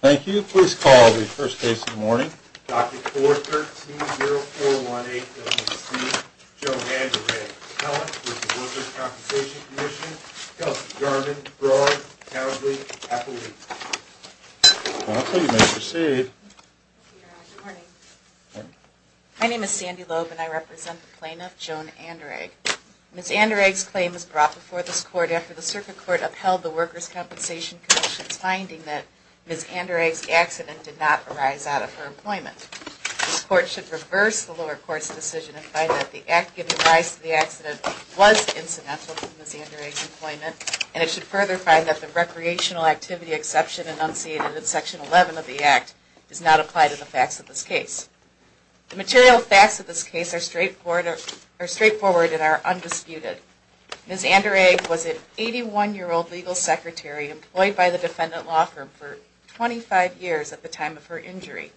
Thank you. Please call the first case of the morning. Dr. 413-0418-WC, Joan Anderegg. Appellant, v. Workers' Compensation Commission, Kelsey Jarman, Broad, Cowdley, Appalooke. You may proceed. Good morning. My name is Sandy Loeb, and I represent the plaintiff, Joan Anderegg. Ms. Anderegg's claim was brought before this Court after the Circuit Court upheld the Workers' Compensation Commission's finding that Ms. Anderegg's accident did not arise out of her employment. This Court should reverse the lower court's decision and find that the act giving rise to the accident was incidental to Ms. Anderegg's employment, and it should further find that the recreational activity exception enunciated in Section 11 of the Act does not apply to the facts of this case. The material facts of this case are straightforward and are undisputed. Ms. Anderegg was an 81-year-old legal secretary employed by the defendant law firm for 25 years at the time of her injury.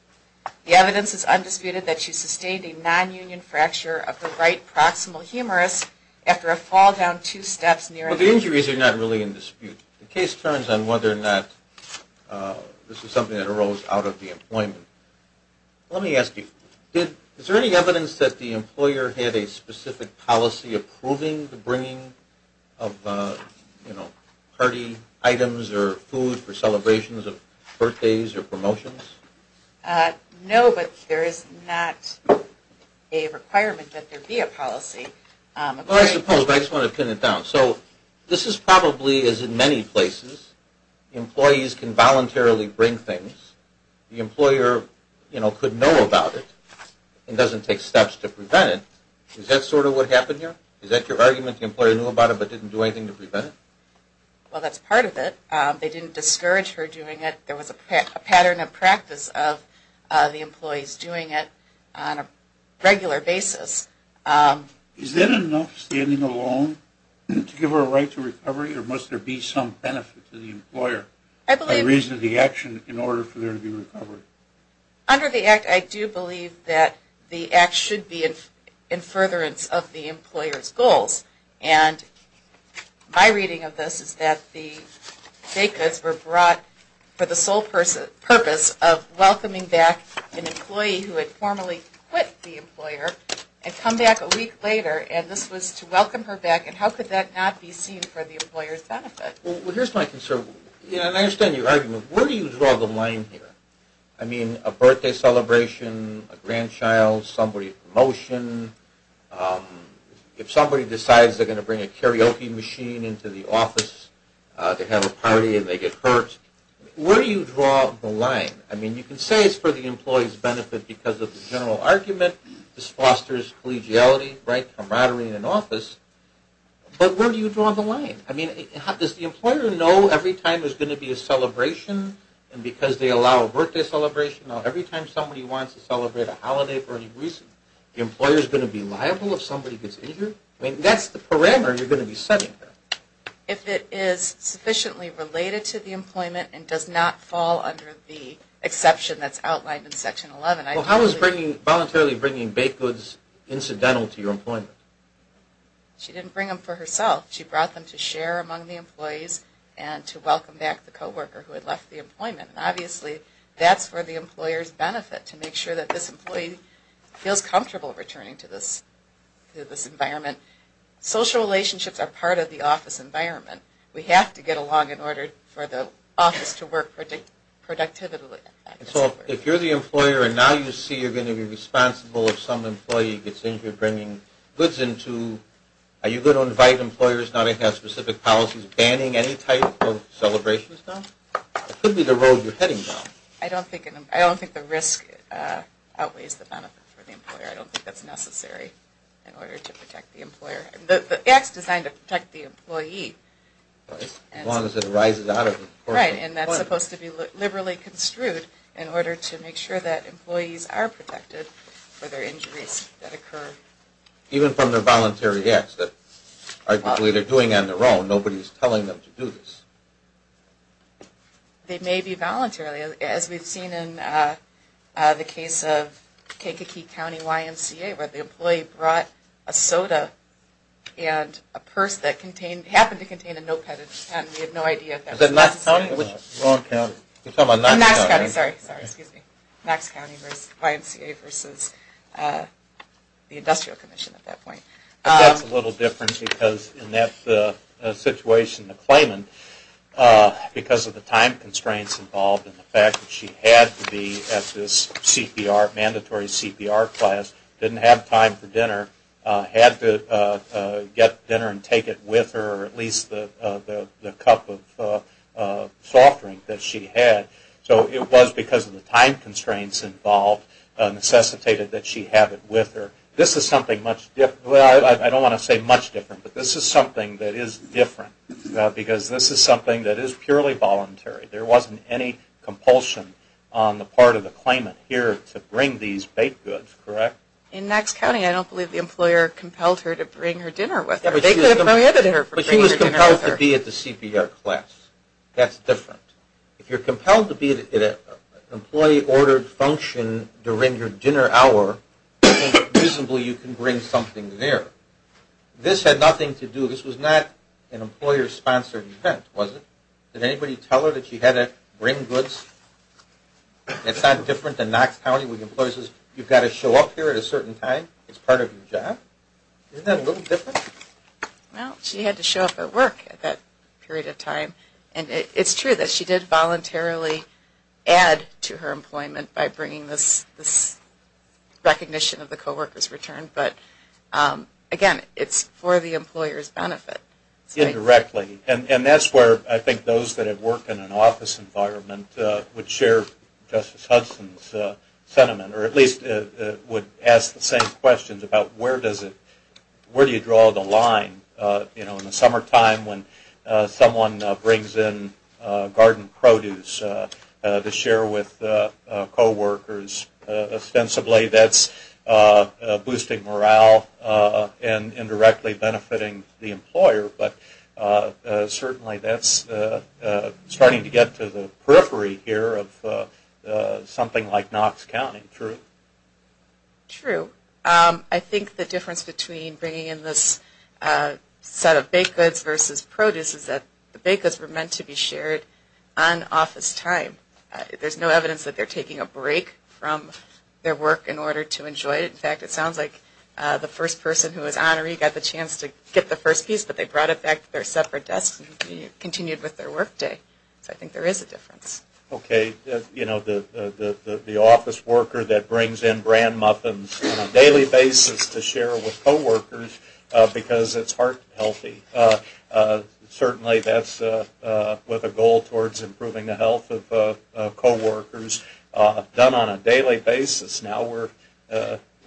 The evidence is undisputed that she sustained a non-union fracture of the right proximal humerus after a fall down two steps near her head. Well, the injuries are not really in dispute. The case turns on whether or not this was something that arose out of the employment. Let me ask you. Is there any evidence that the employer had a specific policy approving the bringing of, you know, party items or food for celebrations of birthdays or promotions? No, but there is not a requirement that there be a policy. Well, I suppose, but I just want to pin it down. So this is probably, as in many places, employees can voluntarily bring things. The employer, you know, could know about it and doesn't take steps to prevent it. Is that sort of what happened here? Is that your argument, the employer knew about it but didn't do anything to prevent it? Well, that's part of it. They didn't discourage her doing it. There was a pattern of practice of the employees doing it on a regular basis. Is that enough standing alone to give her a right to recovery or must there be some benefit to the employer? A reason of the action in order for there to be recovery. Under the Act, I do believe that the Act should be in furtherance of the employer's goals. And my reading of this is that the FACAs were brought for the sole purpose of welcoming back an employee who had formally quit the employer and come back a week later. And this was to welcome her back. Well, here's my concern. And I understand your argument. Where do you draw the line here? I mean, a birthday celebration, a grandchild, somebody's promotion. If somebody decides they're going to bring a karaoke machine into the office to have a party and they get hurt, where do you draw the line? I mean, you can say it's for the employee's benefit because of the general argument. This fosters collegiality, right, camaraderie in an office. But where do you draw the line? I mean, does the employer know every time there's going to be a celebration and because they allow a birthday celebration, every time somebody wants to celebrate a holiday for any reason, the employer is going to be liable if somebody gets injured? I mean, that's the parameter you're going to be setting there. If it is sufficiently related to the employment and does not fall under the exception that's outlined in Section 11. Well, how is voluntarily bringing baked goods incidental to your employment? She didn't bring them for herself. She brought them to share among the employees and to welcome back the co-worker who had left the employment. Obviously, that's where the employers benefit, to make sure that this employee feels comfortable returning to this environment. Social relationships are part of the office environment. We have to get along in order for the office to work productively. So if you're the employer and now you see you're going to be responsible if some employee gets injured bringing goods in too, are you going to invite employers not to have specific policies banning any type of celebration? It could be the road you're heading down. I don't think the risk outweighs the benefit for the employer. I don't think that's necessary in order to protect the employer. The act is designed to protect the employee. As long as it arises out of the corporate environment. Right, and that's supposed to be liberally construed in order to make sure that employees are protected for their injuries that occur. Even from their voluntary acts that they're doing on their own, nobody's telling them to do this. They may be voluntarily, as we've seen in the case of Kankakee County YMCA, where the employee brought a soda and a purse that happened to contain a notepad. Is that Knox County? Knox County, sorry, excuse me. Knox County versus YMCA versus the Industrial Commission at that point. That's a little different because in that situation, the claimant, because of the time constraints involved and the fact that she had to be at this CPR, mandatory CPR class, didn't have time for dinner, had to get dinner and take it with her, at least the cup of soft drink that she had. So it was because of the time constraints involved necessitated that she have it with her. This is something much different. I don't want to say much different, but this is something that is different because this is something that is purely voluntary. There wasn't any compulsion on the part of the claimant here to bring these baked goods, correct? In Knox County, I don't believe the employer compelled her to bring her dinner with her. They could have prohibited her from bringing her dinner with her. But she was compelled to be at the CPR class. That's different. If you're compelled to be at an employee-ordered function during your dinner hour, presumably you can bring something there. This had nothing to do, this was not an employer-sponsored event, was it? Did anybody tell her that she had to bring goods? It's not different than Knox County where the employer says, you've got to show up here at a certain time, it's part of your job. Isn't that a little different? Well, she had to show up at work at that period of time, and it's true that she did voluntarily add to her employment by bringing this recognition of the co-worker's return. But, again, it's for the employer's benefit. Indirectly, and that's where I think those that have worked in an office environment would share Justice Hudson's sentiment, or at least would ask the same questions about where do you draw the line? In the summertime when someone brings in garden produce to share with co-workers, ostensibly that's boosting morale and indirectly benefiting the employer. Certainly that's starting to get to the periphery here of something like Knox County. True. True. I think the difference between bringing in this set of baked goods versus produce is that the baked goods were meant to be shared on office time. There's no evidence that they're taking a break from their work in order to enjoy it. In fact, it sounds like the first person who was honoree got the chance to get the first piece, but they brought it back to their separate desks and continued with their work day. So I think there is a difference. Okay. You know, the office worker that brings in bran muffins on a daily basis to share with co-workers because it's heart healthy, certainly that's with a goal towards improving the health of co-workers. Done on a daily basis, now we're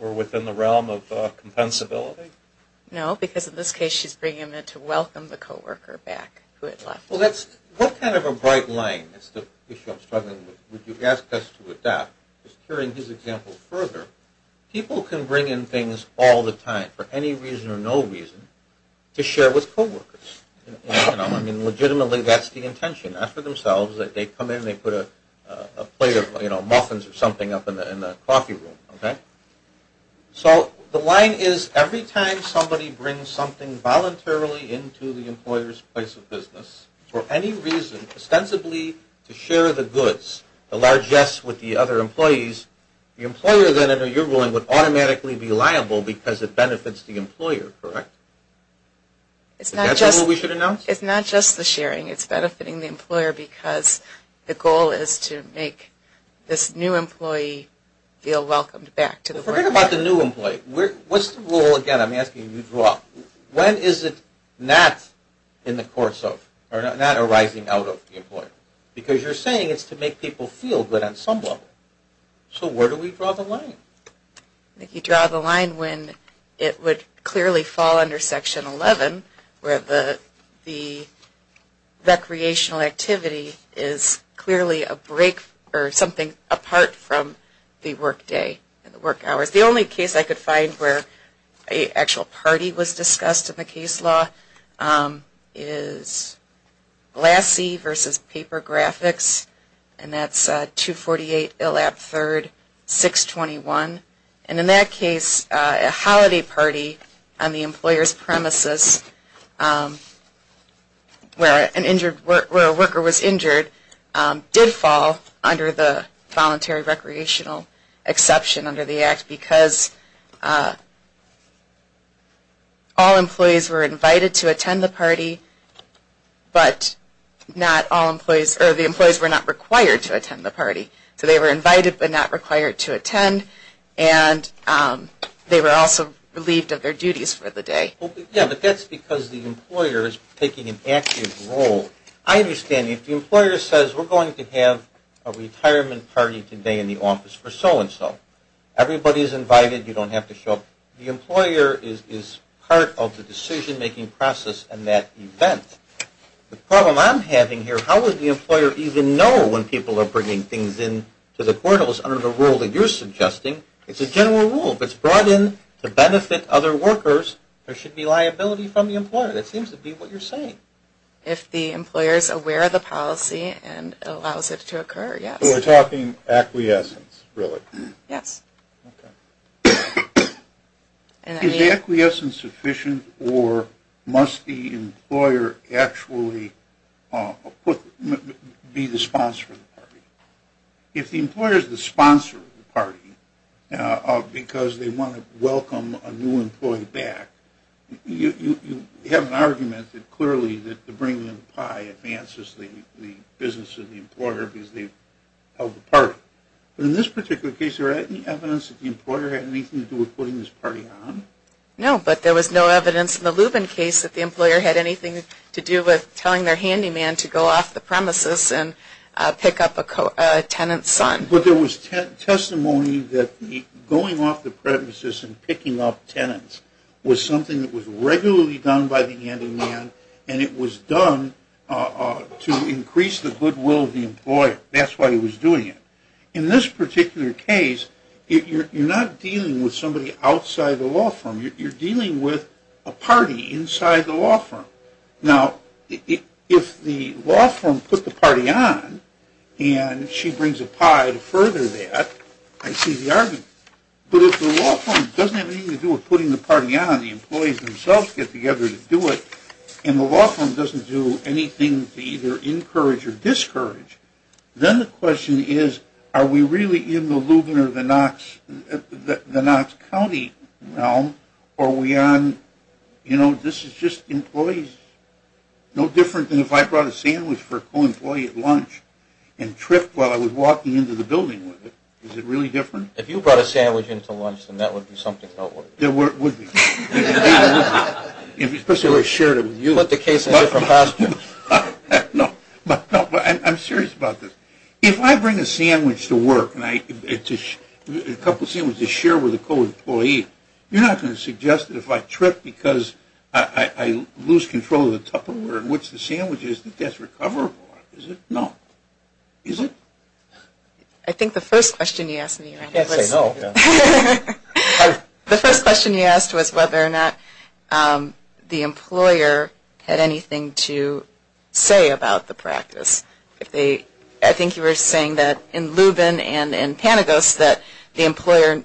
within the realm of compensability? No, because in this case she's bringing them in to welcome the co-worker back who had left. What kind of a bright line is the issue I'm struggling with? Would you ask us to adapt? Just carrying his example further, people can bring in things all the time for any reason or no reason to share with co-workers. I mean, legitimately that's the intention. Not for themselves. They come in and they put a plate of muffins or something up in the coffee room. Okay. So the line is every time somebody brings something voluntarily into the employer's place of business for any reason, ostensibly to share the goods, the largess with the other employees, the employer then, under your ruling, would automatically be liable because it benefits the employer. Correct? Is that what we should announce? It's not just the sharing. It's benefiting the employer because the goal is to make this new employee feel welcomed back. Forget about the new employee. What's the role, again, I'm asking you to draw? When is it not arising out of the employer? Because you're saying it's to make people feel good on some level. So where do we draw the line? I think you draw the line when it would clearly fall under Section 11, where the recreational activity is clearly a break or something apart from the work day and the work hours. The only case I could find where an actual party was discussed in the case law is LASI versus paper graphics, and that's 248 Illab 3rd, 621. And in that case, a holiday party on the employer's premises where a worker was injured did fall under the Voluntary They were invited to attend the party, but the employees were not required to attend the party. So they were invited but not required to attend, and they were also relieved of their duties for the day. Yeah, but that's because the employer is taking an active role. I understand if the employer says, we're going to have a retirement party today in the office for so-and-so, everybody is invited. You don't have to show up. The employer is part of the decision-making process in that event. The problem I'm having here, how would the employer even know when people are bringing things in to the portals under the rule that you're suggesting? It's a general rule. If it's brought in to benefit other workers, there should be liability from the employer. That seems to be what you're saying. If the employer is aware of the policy and allows it to occur, yes. So we're talking acquiescence, really? Yes. Okay. Is the acquiescence sufficient, or must the employer actually be the sponsor of the party? If the employer is the sponsor of the party because they want to welcome a new employee back, you have an argument that clearly the bringing in the pie advances the business and the employer because they've held the party. But in this particular case, is there any evidence that the employer had anything to do with putting this party on? No, but there was no evidence in the Lubin case that the employer had anything to do with telling their handyman to go off the premises and pick up a tenant's son. But there was testimony that going off the premises and picking up tenants was something that was regularly done by the handyman, and it was done to increase the goodwill of the employer. That's why he was doing it. In this particular case, you're not dealing with somebody outside the law firm. You're dealing with a party inside the law firm. Now, if the law firm put the party on and she brings a pie to further that, I see the argument. But if the law firm doesn't have anything to do with putting the party on, the employees themselves get together to do it, and the law firm doesn't do anything to either encourage or discourage, then the question is, are we really in the Lubin or the Knox County realm, or are we on, you know, this is just employees. No different than if I brought a sandwich for a co-employee at lunch and tripped while I was walking into the building with it. Is it really different? If you brought a sandwich into lunch, then that would be something else. It would be. Especially if I shared it with you. Put the case in a different posture. No, but I'm serious about this. If I bring a sandwich to work, a couple of sandwiches to share with a co-employee, you're not going to suggest that if I trip because I lose control of the tupperware in which the sandwich is, that that's recoverable, is it? No. Is it? I think the first question you asked me. Yes, I know. The first question you asked was whether or not the employer had anything to say about the practice. I think you were saying that in Lubin and in Panagos that the employer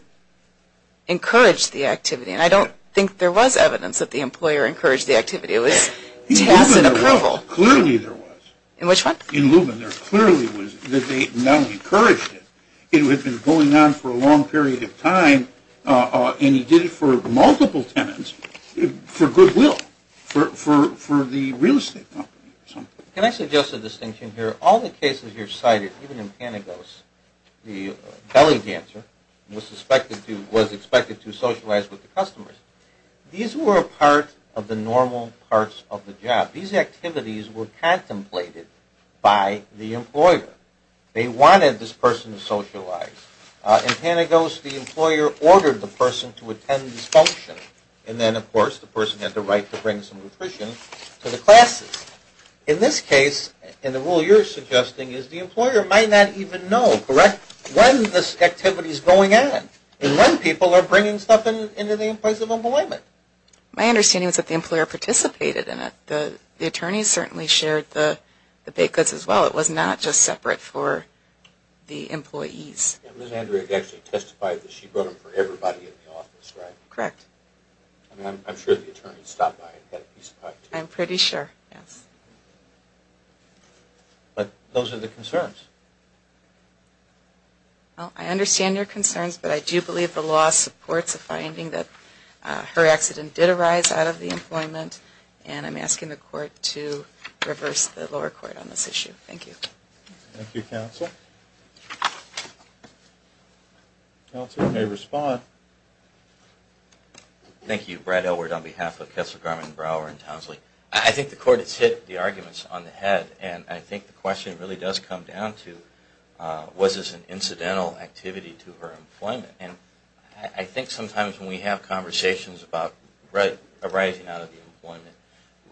encouraged the activity, and I don't think there was evidence that the employer encouraged the activity. It was tacit approval. In Lubin there clearly was. In which one? In Lubin there clearly was that they not encouraged it. It had been going on for a long period of time, and he did it for multiple tenants for goodwill, for the real estate company. Can I suggest a distinction here? All the cases you've cited, even in Panagos, the belly dancer was expected to socialize with the customers. These were a part of the normal parts of the job. These activities were contemplated by the employer. They wanted this person to socialize. In Panagos the employer ordered the person to attend this function, and then, of course, the person had the right to bring some nutrition to the classes. In this case, and the rule you're suggesting, is the employer might not even know, correct, when this activity is going on and when people are bringing stuff into the employment. My understanding is that the employer participated in it. The attorneys certainly shared the baked goods as well. It was not just separate for the employees. Ms. Andrea actually testified that she brought them for everybody in the office, right? Correct. I'm sure the attorneys stopped by and got a piece of pie, too. I'm pretty sure, yes. But those are the concerns. I understand your concerns, but I do believe the law supports a finding that her accident did arise out of the employment, and I'm asking the court to reverse the lower court on this issue. Thank you. Thank you, counsel. Counsel, you may respond. Thank you. Brad Elword on behalf of Counselor Carmen Brower in Towsley. I think the court has hit the arguments on the head, and I think the question really does come down to was this an incidental activity to her employment. I think sometimes when we have conversations about arising out of the employment,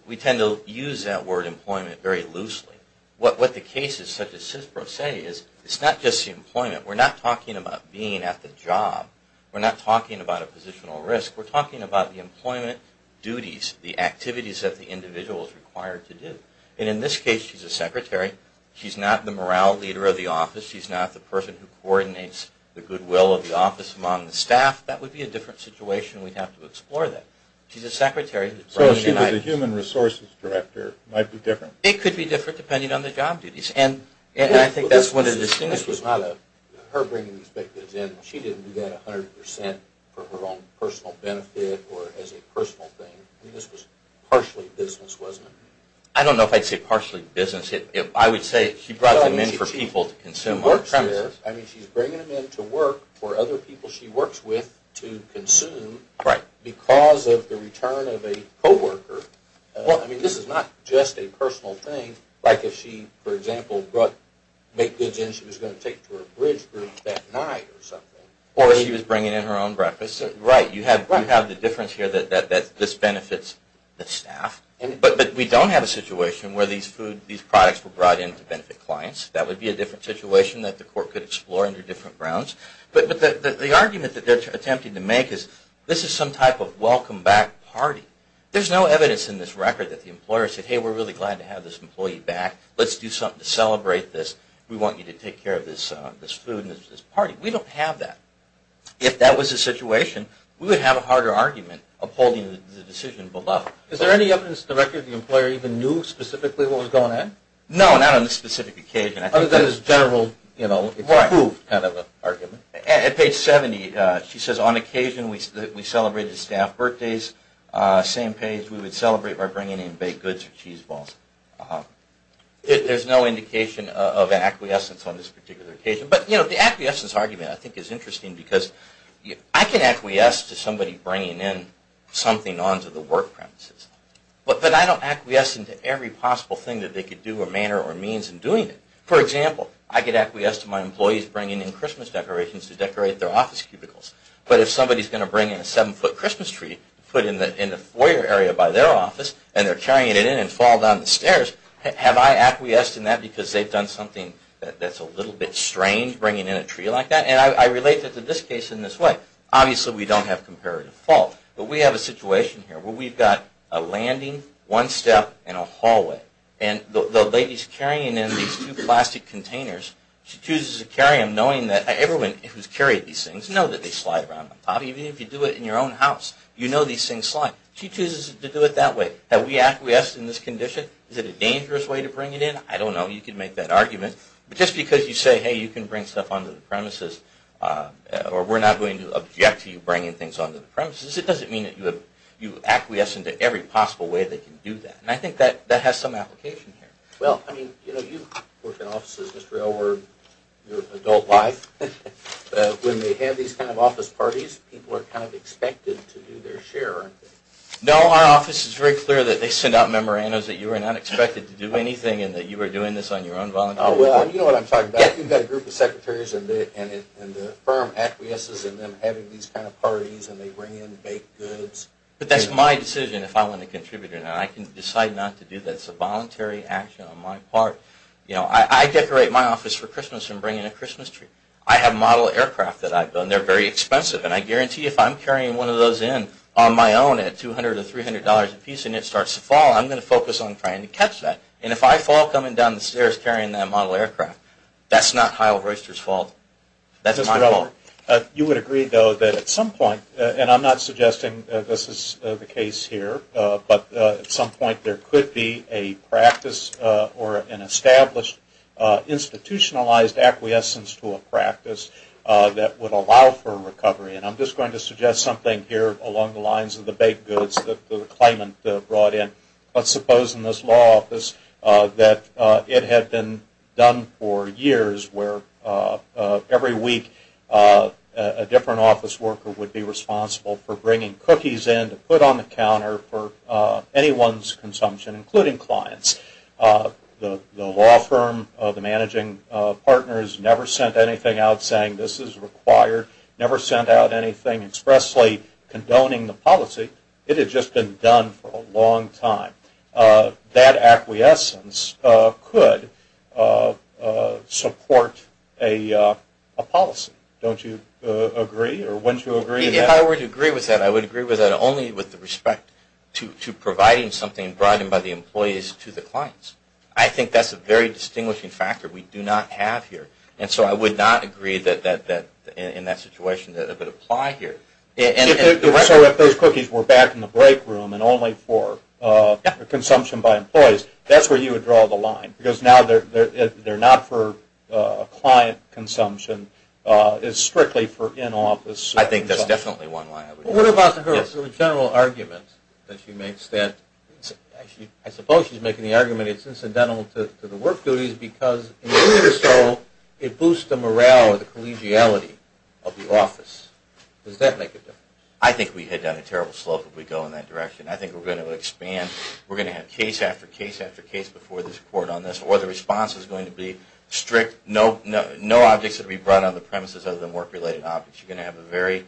we tend to use that word employment very loosely. What the cases such as CISPRO say is it's not just the employment. We're not talking about being at the job. We're not talking about a positional risk. We're talking about the employment duties, the activities that the individual is required to do. In this case, she's a secretary. She's not the morale leader of the office. She's not the person who coordinates the goodwill of the office among the staff. That would be a different situation. We'd have to explore that. She's a secretary. So she was a human resources director. It might be different. It could be different depending on the job duties, and I think that's one of the distinctions. This was not her bringing these victims in. She didn't do that 100% for her own personal benefit or as a personal thing. This was partially business, wasn't it? I don't know if I'd say partially business. I would say she brought them in for people to consume. She works here. I mean she's bringing them in to work for other people she works with to consume because of the return of a co-worker. I mean this is not just a personal thing. Like if she, for example, brought make-goods in she was going to take to her bridge group that night or something. Or she was bringing in her own breakfast. Right. You have the difference here that this benefits the staff. But we don't have a situation where these products were brought in to benefit clients. That would be a different situation that the court could explore under different grounds. But the argument that they're attempting to make is this is some type of welcome back party. There's no evidence in this record that the employer said, hey, we're really glad to have this employee back. Let's do something to celebrate this. We want you to take care of this food and this party. We don't have that. If that was the situation, we would have a harder argument upholding the decision below. Is there any evidence the record of the employer even knew specifically what was going on? No, not on a specific occasion. Other than this general, you know, it's approved kind of argument. At page 70 she says, on occasion we celebrated staff birthdays. Same page, we would celebrate by bringing in baked goods or cheese balls. There's no indication of acquiescence on this particular occasion. But, you know, the acquiescence argument I think is interesting because I can acquiesce to somebody bringing in something onto the work premises. But I don't acquiesce into every possible thing that they could do or manner or means in doing it. For example, I could acquiesce to my employees bringing in Christmas decorations to decorate their office cubicles. But if somebody's going to bring in a seven-foot Christmas tree put in the foyer area by their office and they're carrying it in and fall down the stairs, have I acquiesced in that because they've done something that's a little bit strange, bringing in a tree like that? And I relate to this case in this way. Obviously, we don't have comparative fault. But we have a situation here where we've got a landing, one step, and a hallway. And the lady's carrying in these two plastic containers. She chooses to carry them knowing that everyone who's carried these things know that they slide around. If you do it in your own house, you know these things slide. She chooses to do it that way. Have we acquiesced in this condition? Is it a dangerous way to bring it in? I don't know. You can make that argument. But just because you say, hey, you can bring stuff onto the premises or we're not going to object to you bringing things onto the premises, it doesn't mean that you acquiesce into every possible way they can do that. And I think that has some application here. Well, I mean, you work in offices, Mr. Elward, your adult life. When they have these kind of office parties, people are kind of expected to do their share, aren't they? No, our office is very clear that they send out memorandums that you are not expected to do anything and that you are doing this on your own voluntarily. Oh, well, you know what I'm talking about. You've got a group of secretaries and the firm acquiesces in them having these kind of parties and they bring in baked goods. But that's my decision if I want to contribute or not. I can decide not to do that. It's a voluntary action on my part. You know, I decorate my office for Christmas and bring in a Christmas tree. I have model aircraft that I've done. They're very expensive. And I guarantee if I'm carrying one of those in on my own at $200 or $300 apiece and it starts to fall, I'm going to focus on trying to catch that. And if I fall coming down the stairs carrying that model aircraft, that's not Kyle Royster's fault. That's my fault. You would agree, though, that at some point, and I'm not suggesting this is the case here, but at some point there could be a practice or an established institutionalized acquiescence to a practice that would allow for recovery. And I'm just going to suggest something here along the lines of the baked goods that the claimant brought in. Let's suppose in this law office that it had been done for years where every week a different office worker would be responsible for bringing cookies in to put on the counter for anyone's consumption, including clients. The law firm, the managing partners never sent anything out saying this is required, never sent out anything expressly condoning the policy. It had just been done for a long time. That acquiescence could support a policy. Don't you agree or wouldn't you agree to that? If I were to agree with that, I would agree with that only with respect to providing something brought in by the employees to the clients. I think that's a very distinguishing factor we do not have here. And so I would not agree in that situation that it would apply here. So if those cookies were back in the break room and only for consumption by employees, that's where you would draw the line because now they're not for client consumption. It's strictly for in-office consumption. I think that's definitely one way. What about the general argument that she makes that I suppose she's making the argument it's incidental to the work duties because in doing so it boosts the morale or the collegiality of the office. Does that make a difference? I think we head down a terrible slope if we go in that direction. I think we're going to expand. We're going to have case after case after case before this report on this or the response is going to be strict. No objects are to be brought on the premises other than work-related objects. You're going to have a very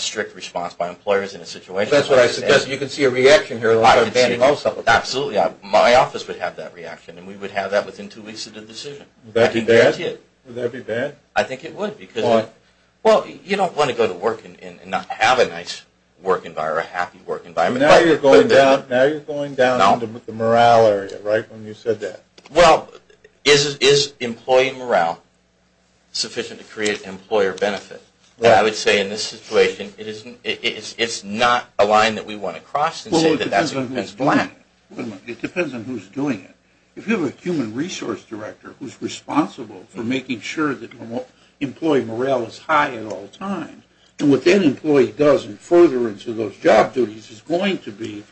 strict response by employers in a situation like this. That's what I suggest. You can see a reaction here. Absolutely. My office would have that reaction and we would have that within two weeks of the decision. Would that be bad? I can guarantee it. Would that be bad? I think it would. Well, you don't want to go to work and not have a nice work environment or a happy work environment. Now you're going down into the morale area, right, when you said that. Well, is employee morale sufficient to create employer benefit? I would say in this situation it's not a line that we want to cross and say that that's black. It depends on who's doing it. If you have a human resource director who's responsible for making sure that employee morale is high at all times and what that employee does in furtherance of those job duties is going to be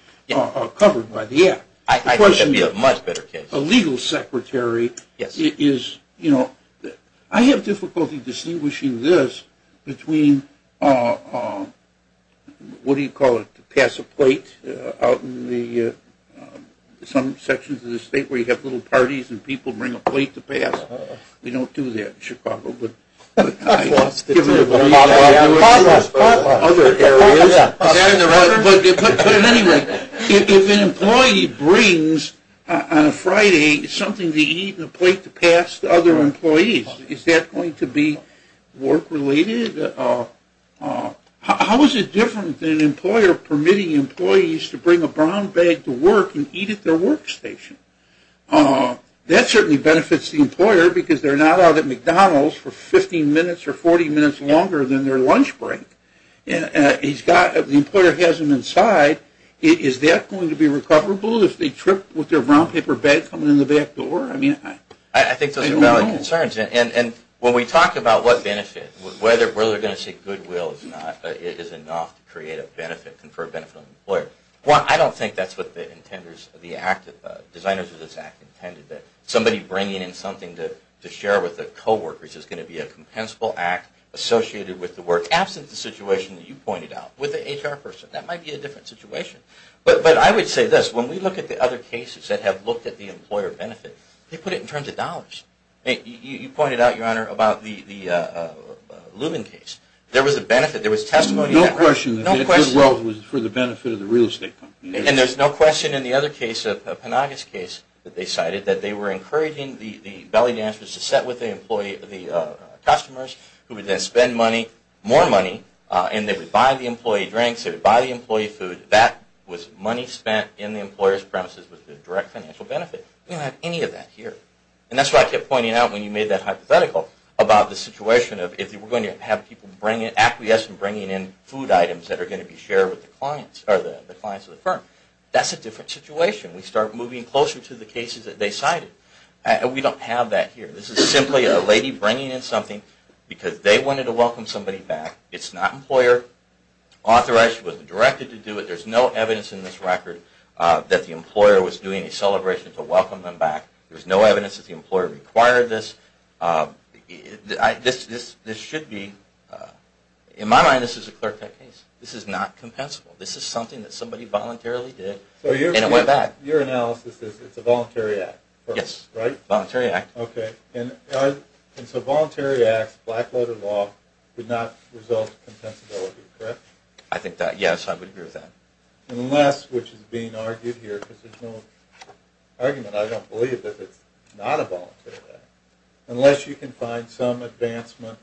covered by the act. I think that would be a much better case. A legal secretary is, you know, I have difficulty distinguishing this between, what do you call it, to pass a plate out in some sections of the state where you have little parties and people bring a plate to pass. We don't do that in Chicago, but I've given it a read. Other areas. But anyway, if an employee brings on a Friday something to eat and a plate to pass to other employees, is that going to be work-related? How is it different than an employer permitting employees to bring a brown bag to work and eat at their workstation? That certainly benefits the employer because they're not out at McDonald's for 15 minutes or 40 minutes longer than their lunch break. The employer has them inside. Is that going to be recoverable if they trip with their brown paper bag coming in the back door? I mean, I don't know. I think those are valid concerns. And when we talk about what benefits, whether they're going to say goodwill is enough to create a benefit, confer a benefit on the employer. Well, I don't think that's what the designers of this act intended, that somebody bringing in something to share with their coworkers is going to be a compensable act associated with the work, absent the situation that you pointed out with the HR person. That might be a different situation. But I would say this. When we look at the other cases that have looked at the employer benefit, they put it in terms of dollars. You pointed out, Your Honor, about the Lubin case. There was a benefit. There was testimony. No question that goodwill was for the benefit of the real estate company. And there's no question in the other case, the Penagos case that they cited, that they were encouraging the belly dancers to sit with the customers who would then spend money, more money, and they would buy the employee drinks. They would buy the employee food. That was money spent in the employer's premises with the direct financial benefit. We don't have any of that here. And that's why I kept pointing out when you made that hypothetical about the situation of if you were going to have people acquiescing and bringing in food items that are going to be shared with the clients of the firm, that's a different situation. We start moving closer to the cases that they cited. And we don't have that here. This is simply a lady bringing in something because they wanted to welcome somebody back. It's not employer-authorized. It wasn't directed to do it. There's no evidence in this record that the employer was doing a celebration to welcome them back. There's no evidence that the employer required this. This should be, in my mind, this is a clear-cut case. This is not compensable. This is something that somebody voluntarily did and it went back. So your analysis is it's a voluntary act? Yes. Right? Voluntary act. Okay. And so voluntary acts, black-letter law, would not result in compensability, correct? I think that, yes, I would agree with that. Unless, which is being argued here because there's no argument, I don't believe that it's not a voluntary act. Unless you can find some advancement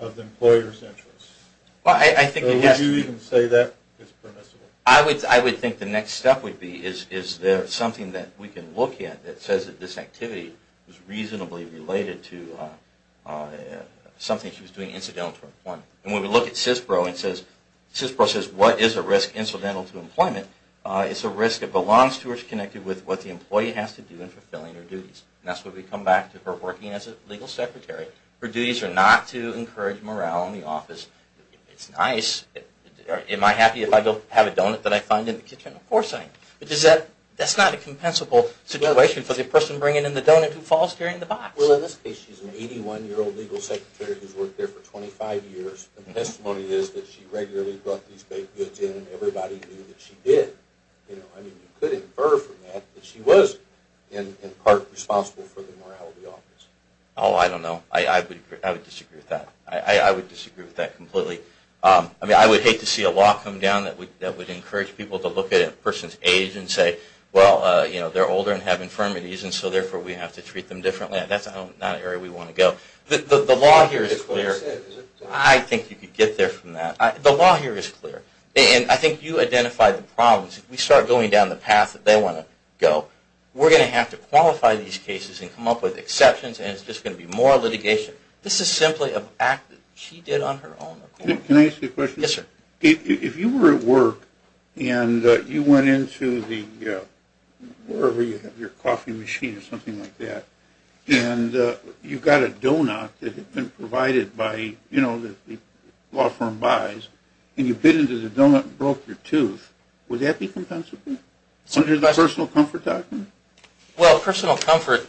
of the employer's interests. I think it has to be. Would you even say that is permissible? I would think the next step would be is there something that we can look at that says that this activity was reasonably related to something she was doing incidental to her employment. And when we look at CISPRO and CISPRO says what is a risk incidental to employment, it's a risk that belongs to or is connected with what the employee has to do in fulfilling her duties. And that's where we come back to her working as a legal secretary. Her duties are not to encourage morale in the office. It's nice. Am I happy if I don't have a donut that I find in the kitchen? Of course I am. But that's not a compensable situation for the person bringing in the donut who falls during the box. Well, in this case, she's an 81-year-old legal secretary who's worked there for 25 years. And the testimony is that she regularly brought these baked goods in and everybody knew that she did. I mean, you could infer from that that she was in part responsible for the morale of the office. Oh, I don't know. I would disagree with that. I would disagree with that completely. I mean, I would hate to see a law come down that would encourage people to look at a person's age and say, well, they're older and have infirmities, and so therefore we have to treat them differently. That's not an area we want to go. The law here is clear. I think you could get there from that. The law here is clear. And I think you identified the problems. If we start going down the path that they want to go, we're going to have to qualify these cases and come up with exceptions, and it's just going to be more litigation. This is simply an act that she did on her own. Can I ask you a question? Yes, sir. If you were at work and you went into wherever you have your coffee machine or something like that, and you got a donut that had been provided by, you know, the law firm buys, and you bit into the donut and broke your tooth, would that be compensable? Under the personal comfort doctrine? Well, personal comfort.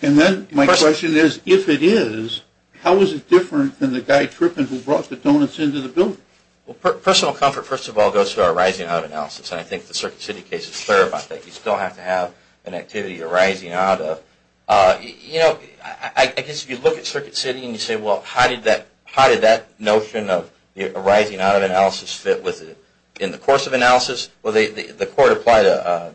And then my question is, if it is, how is it different than the guy tripping who brought the donuts into the building? Well, personal comfort, first of all, goes to our rising out analysis, and I think the Circuit City case is clear about that. You still have to have an activity arising out of. You know, I guess if you look at Circuit City and you say, well, how did that notion of arising out of analysis fit in the course of analysis? Well, the court applied the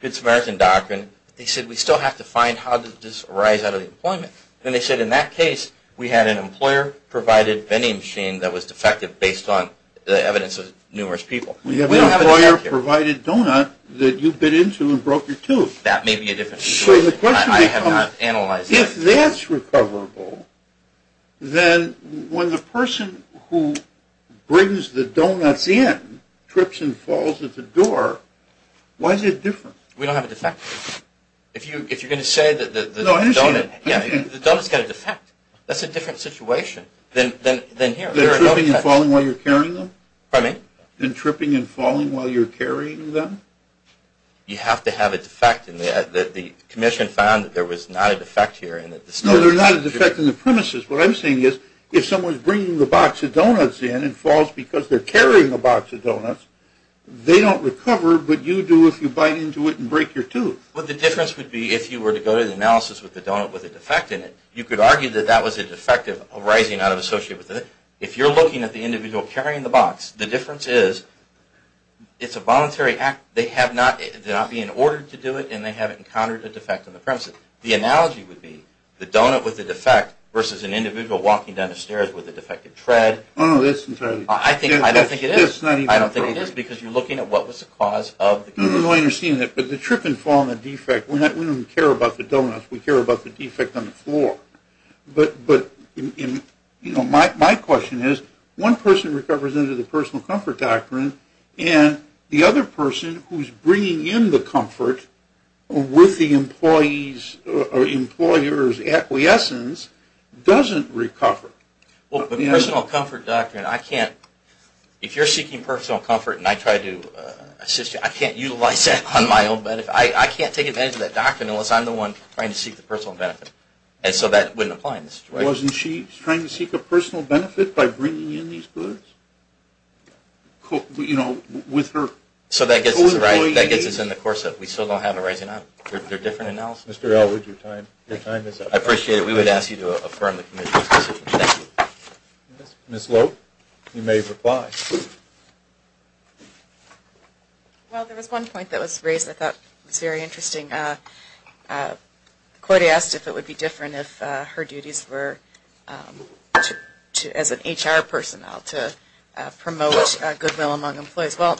Good Samaritan doctrine. They said we still have to find how does this arise out of the employment. And they said in that case we had an employer-provided vending machine that was defective based on the evidence of numerous people. We have an employer-provided donut that you bit into and broke your tooth. That may be a different story. I have not analyzed it. If that's recoverable, then when the person who brings the donuts in trips and falls at the door, why is it different? We don't have a defect. If you're going to say that the donut has got a defect, that's a different situation than here. Than tripping and falling while you're carrying them? Pardon me? Than tripping and falling while you're carrying them? You have to have a defect. And the commission found that there was not a defect here. No, there's not a defect in the premises. What I'm saying is if someone's bringing the box of donuts in and falls because they're carrying a box of donuts, they don't recover, but you do if you bite into it and break your tooth. Well, the difference would be if you were to go to the analysis with the donut with a defect in it, you could argue that that was a defect of arising out of association with it. If you're looking at the individual carrying the box, the difference is it's a voluntary act. They have not been ordered to do it, and they haven't encountered a defect in the premises. The analogy would be the donut with a defect versus an individual walking down the stairs with a defective tread. Oh, no, that's entirely different. I don't think it is. That's not even appropriate. I don't think it is because you're looking at what was the cause of the defect. No, I understand that. But the trip and fall and the defect, we don't even care about the donuts. We care about the defect on the floor. But my question is one person recovers under the personal comfort doctrine, and the other person who's bringing in the comfort with the employer's acquiescence doesn't recover. Well, the personal comfort doctrine, I can't – if you're seeking personal comfort and I try to assist you, I can't utilize that on my own benefit. I can't take advantage of that doctrine unless I'm the one trying to seek the personal benefit. And so that wouldn't apply in this situation. Wasn't she trying to seek a personal benefit by bringing in these goods? You know, with her employees? So that gets us in the course of we still don't have a rising up. They're different annals. Mr. Elwood, your time is up. I appreciate it. We would ask you to affirm the committee's decision. Thank you. Ms. Loeb, you may reply. Well, there was one point that was raised I thought was very interesting. Cordia asked if it would be different if her duties were as an HR personnel to promote goodwill among employees. Well,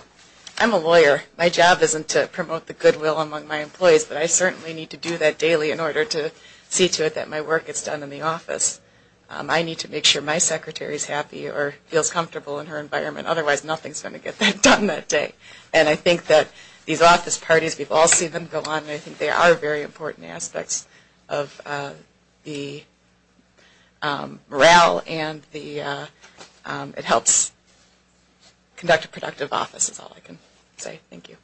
I'm a lawyer. My job isn't to promote the goodwill among my employees, but I certainly need to do that daily in order to see to it that my work gets done in the office. I need to make sure my secretary is happy or feels comfortable in her environment. Otherwise, nothing is going to get done that day. And I think that these office parties, we've all seen them go on, and I think they are very important aspects of the morale, and it helps conduct a productive office is all I can say. Thank you.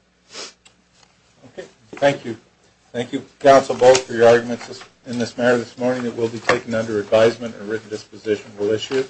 Okay. Thank you. Thank you, Council, both, for your arguments in this matter this morning. It will be taken under advisement and written disposition. We'll issue it.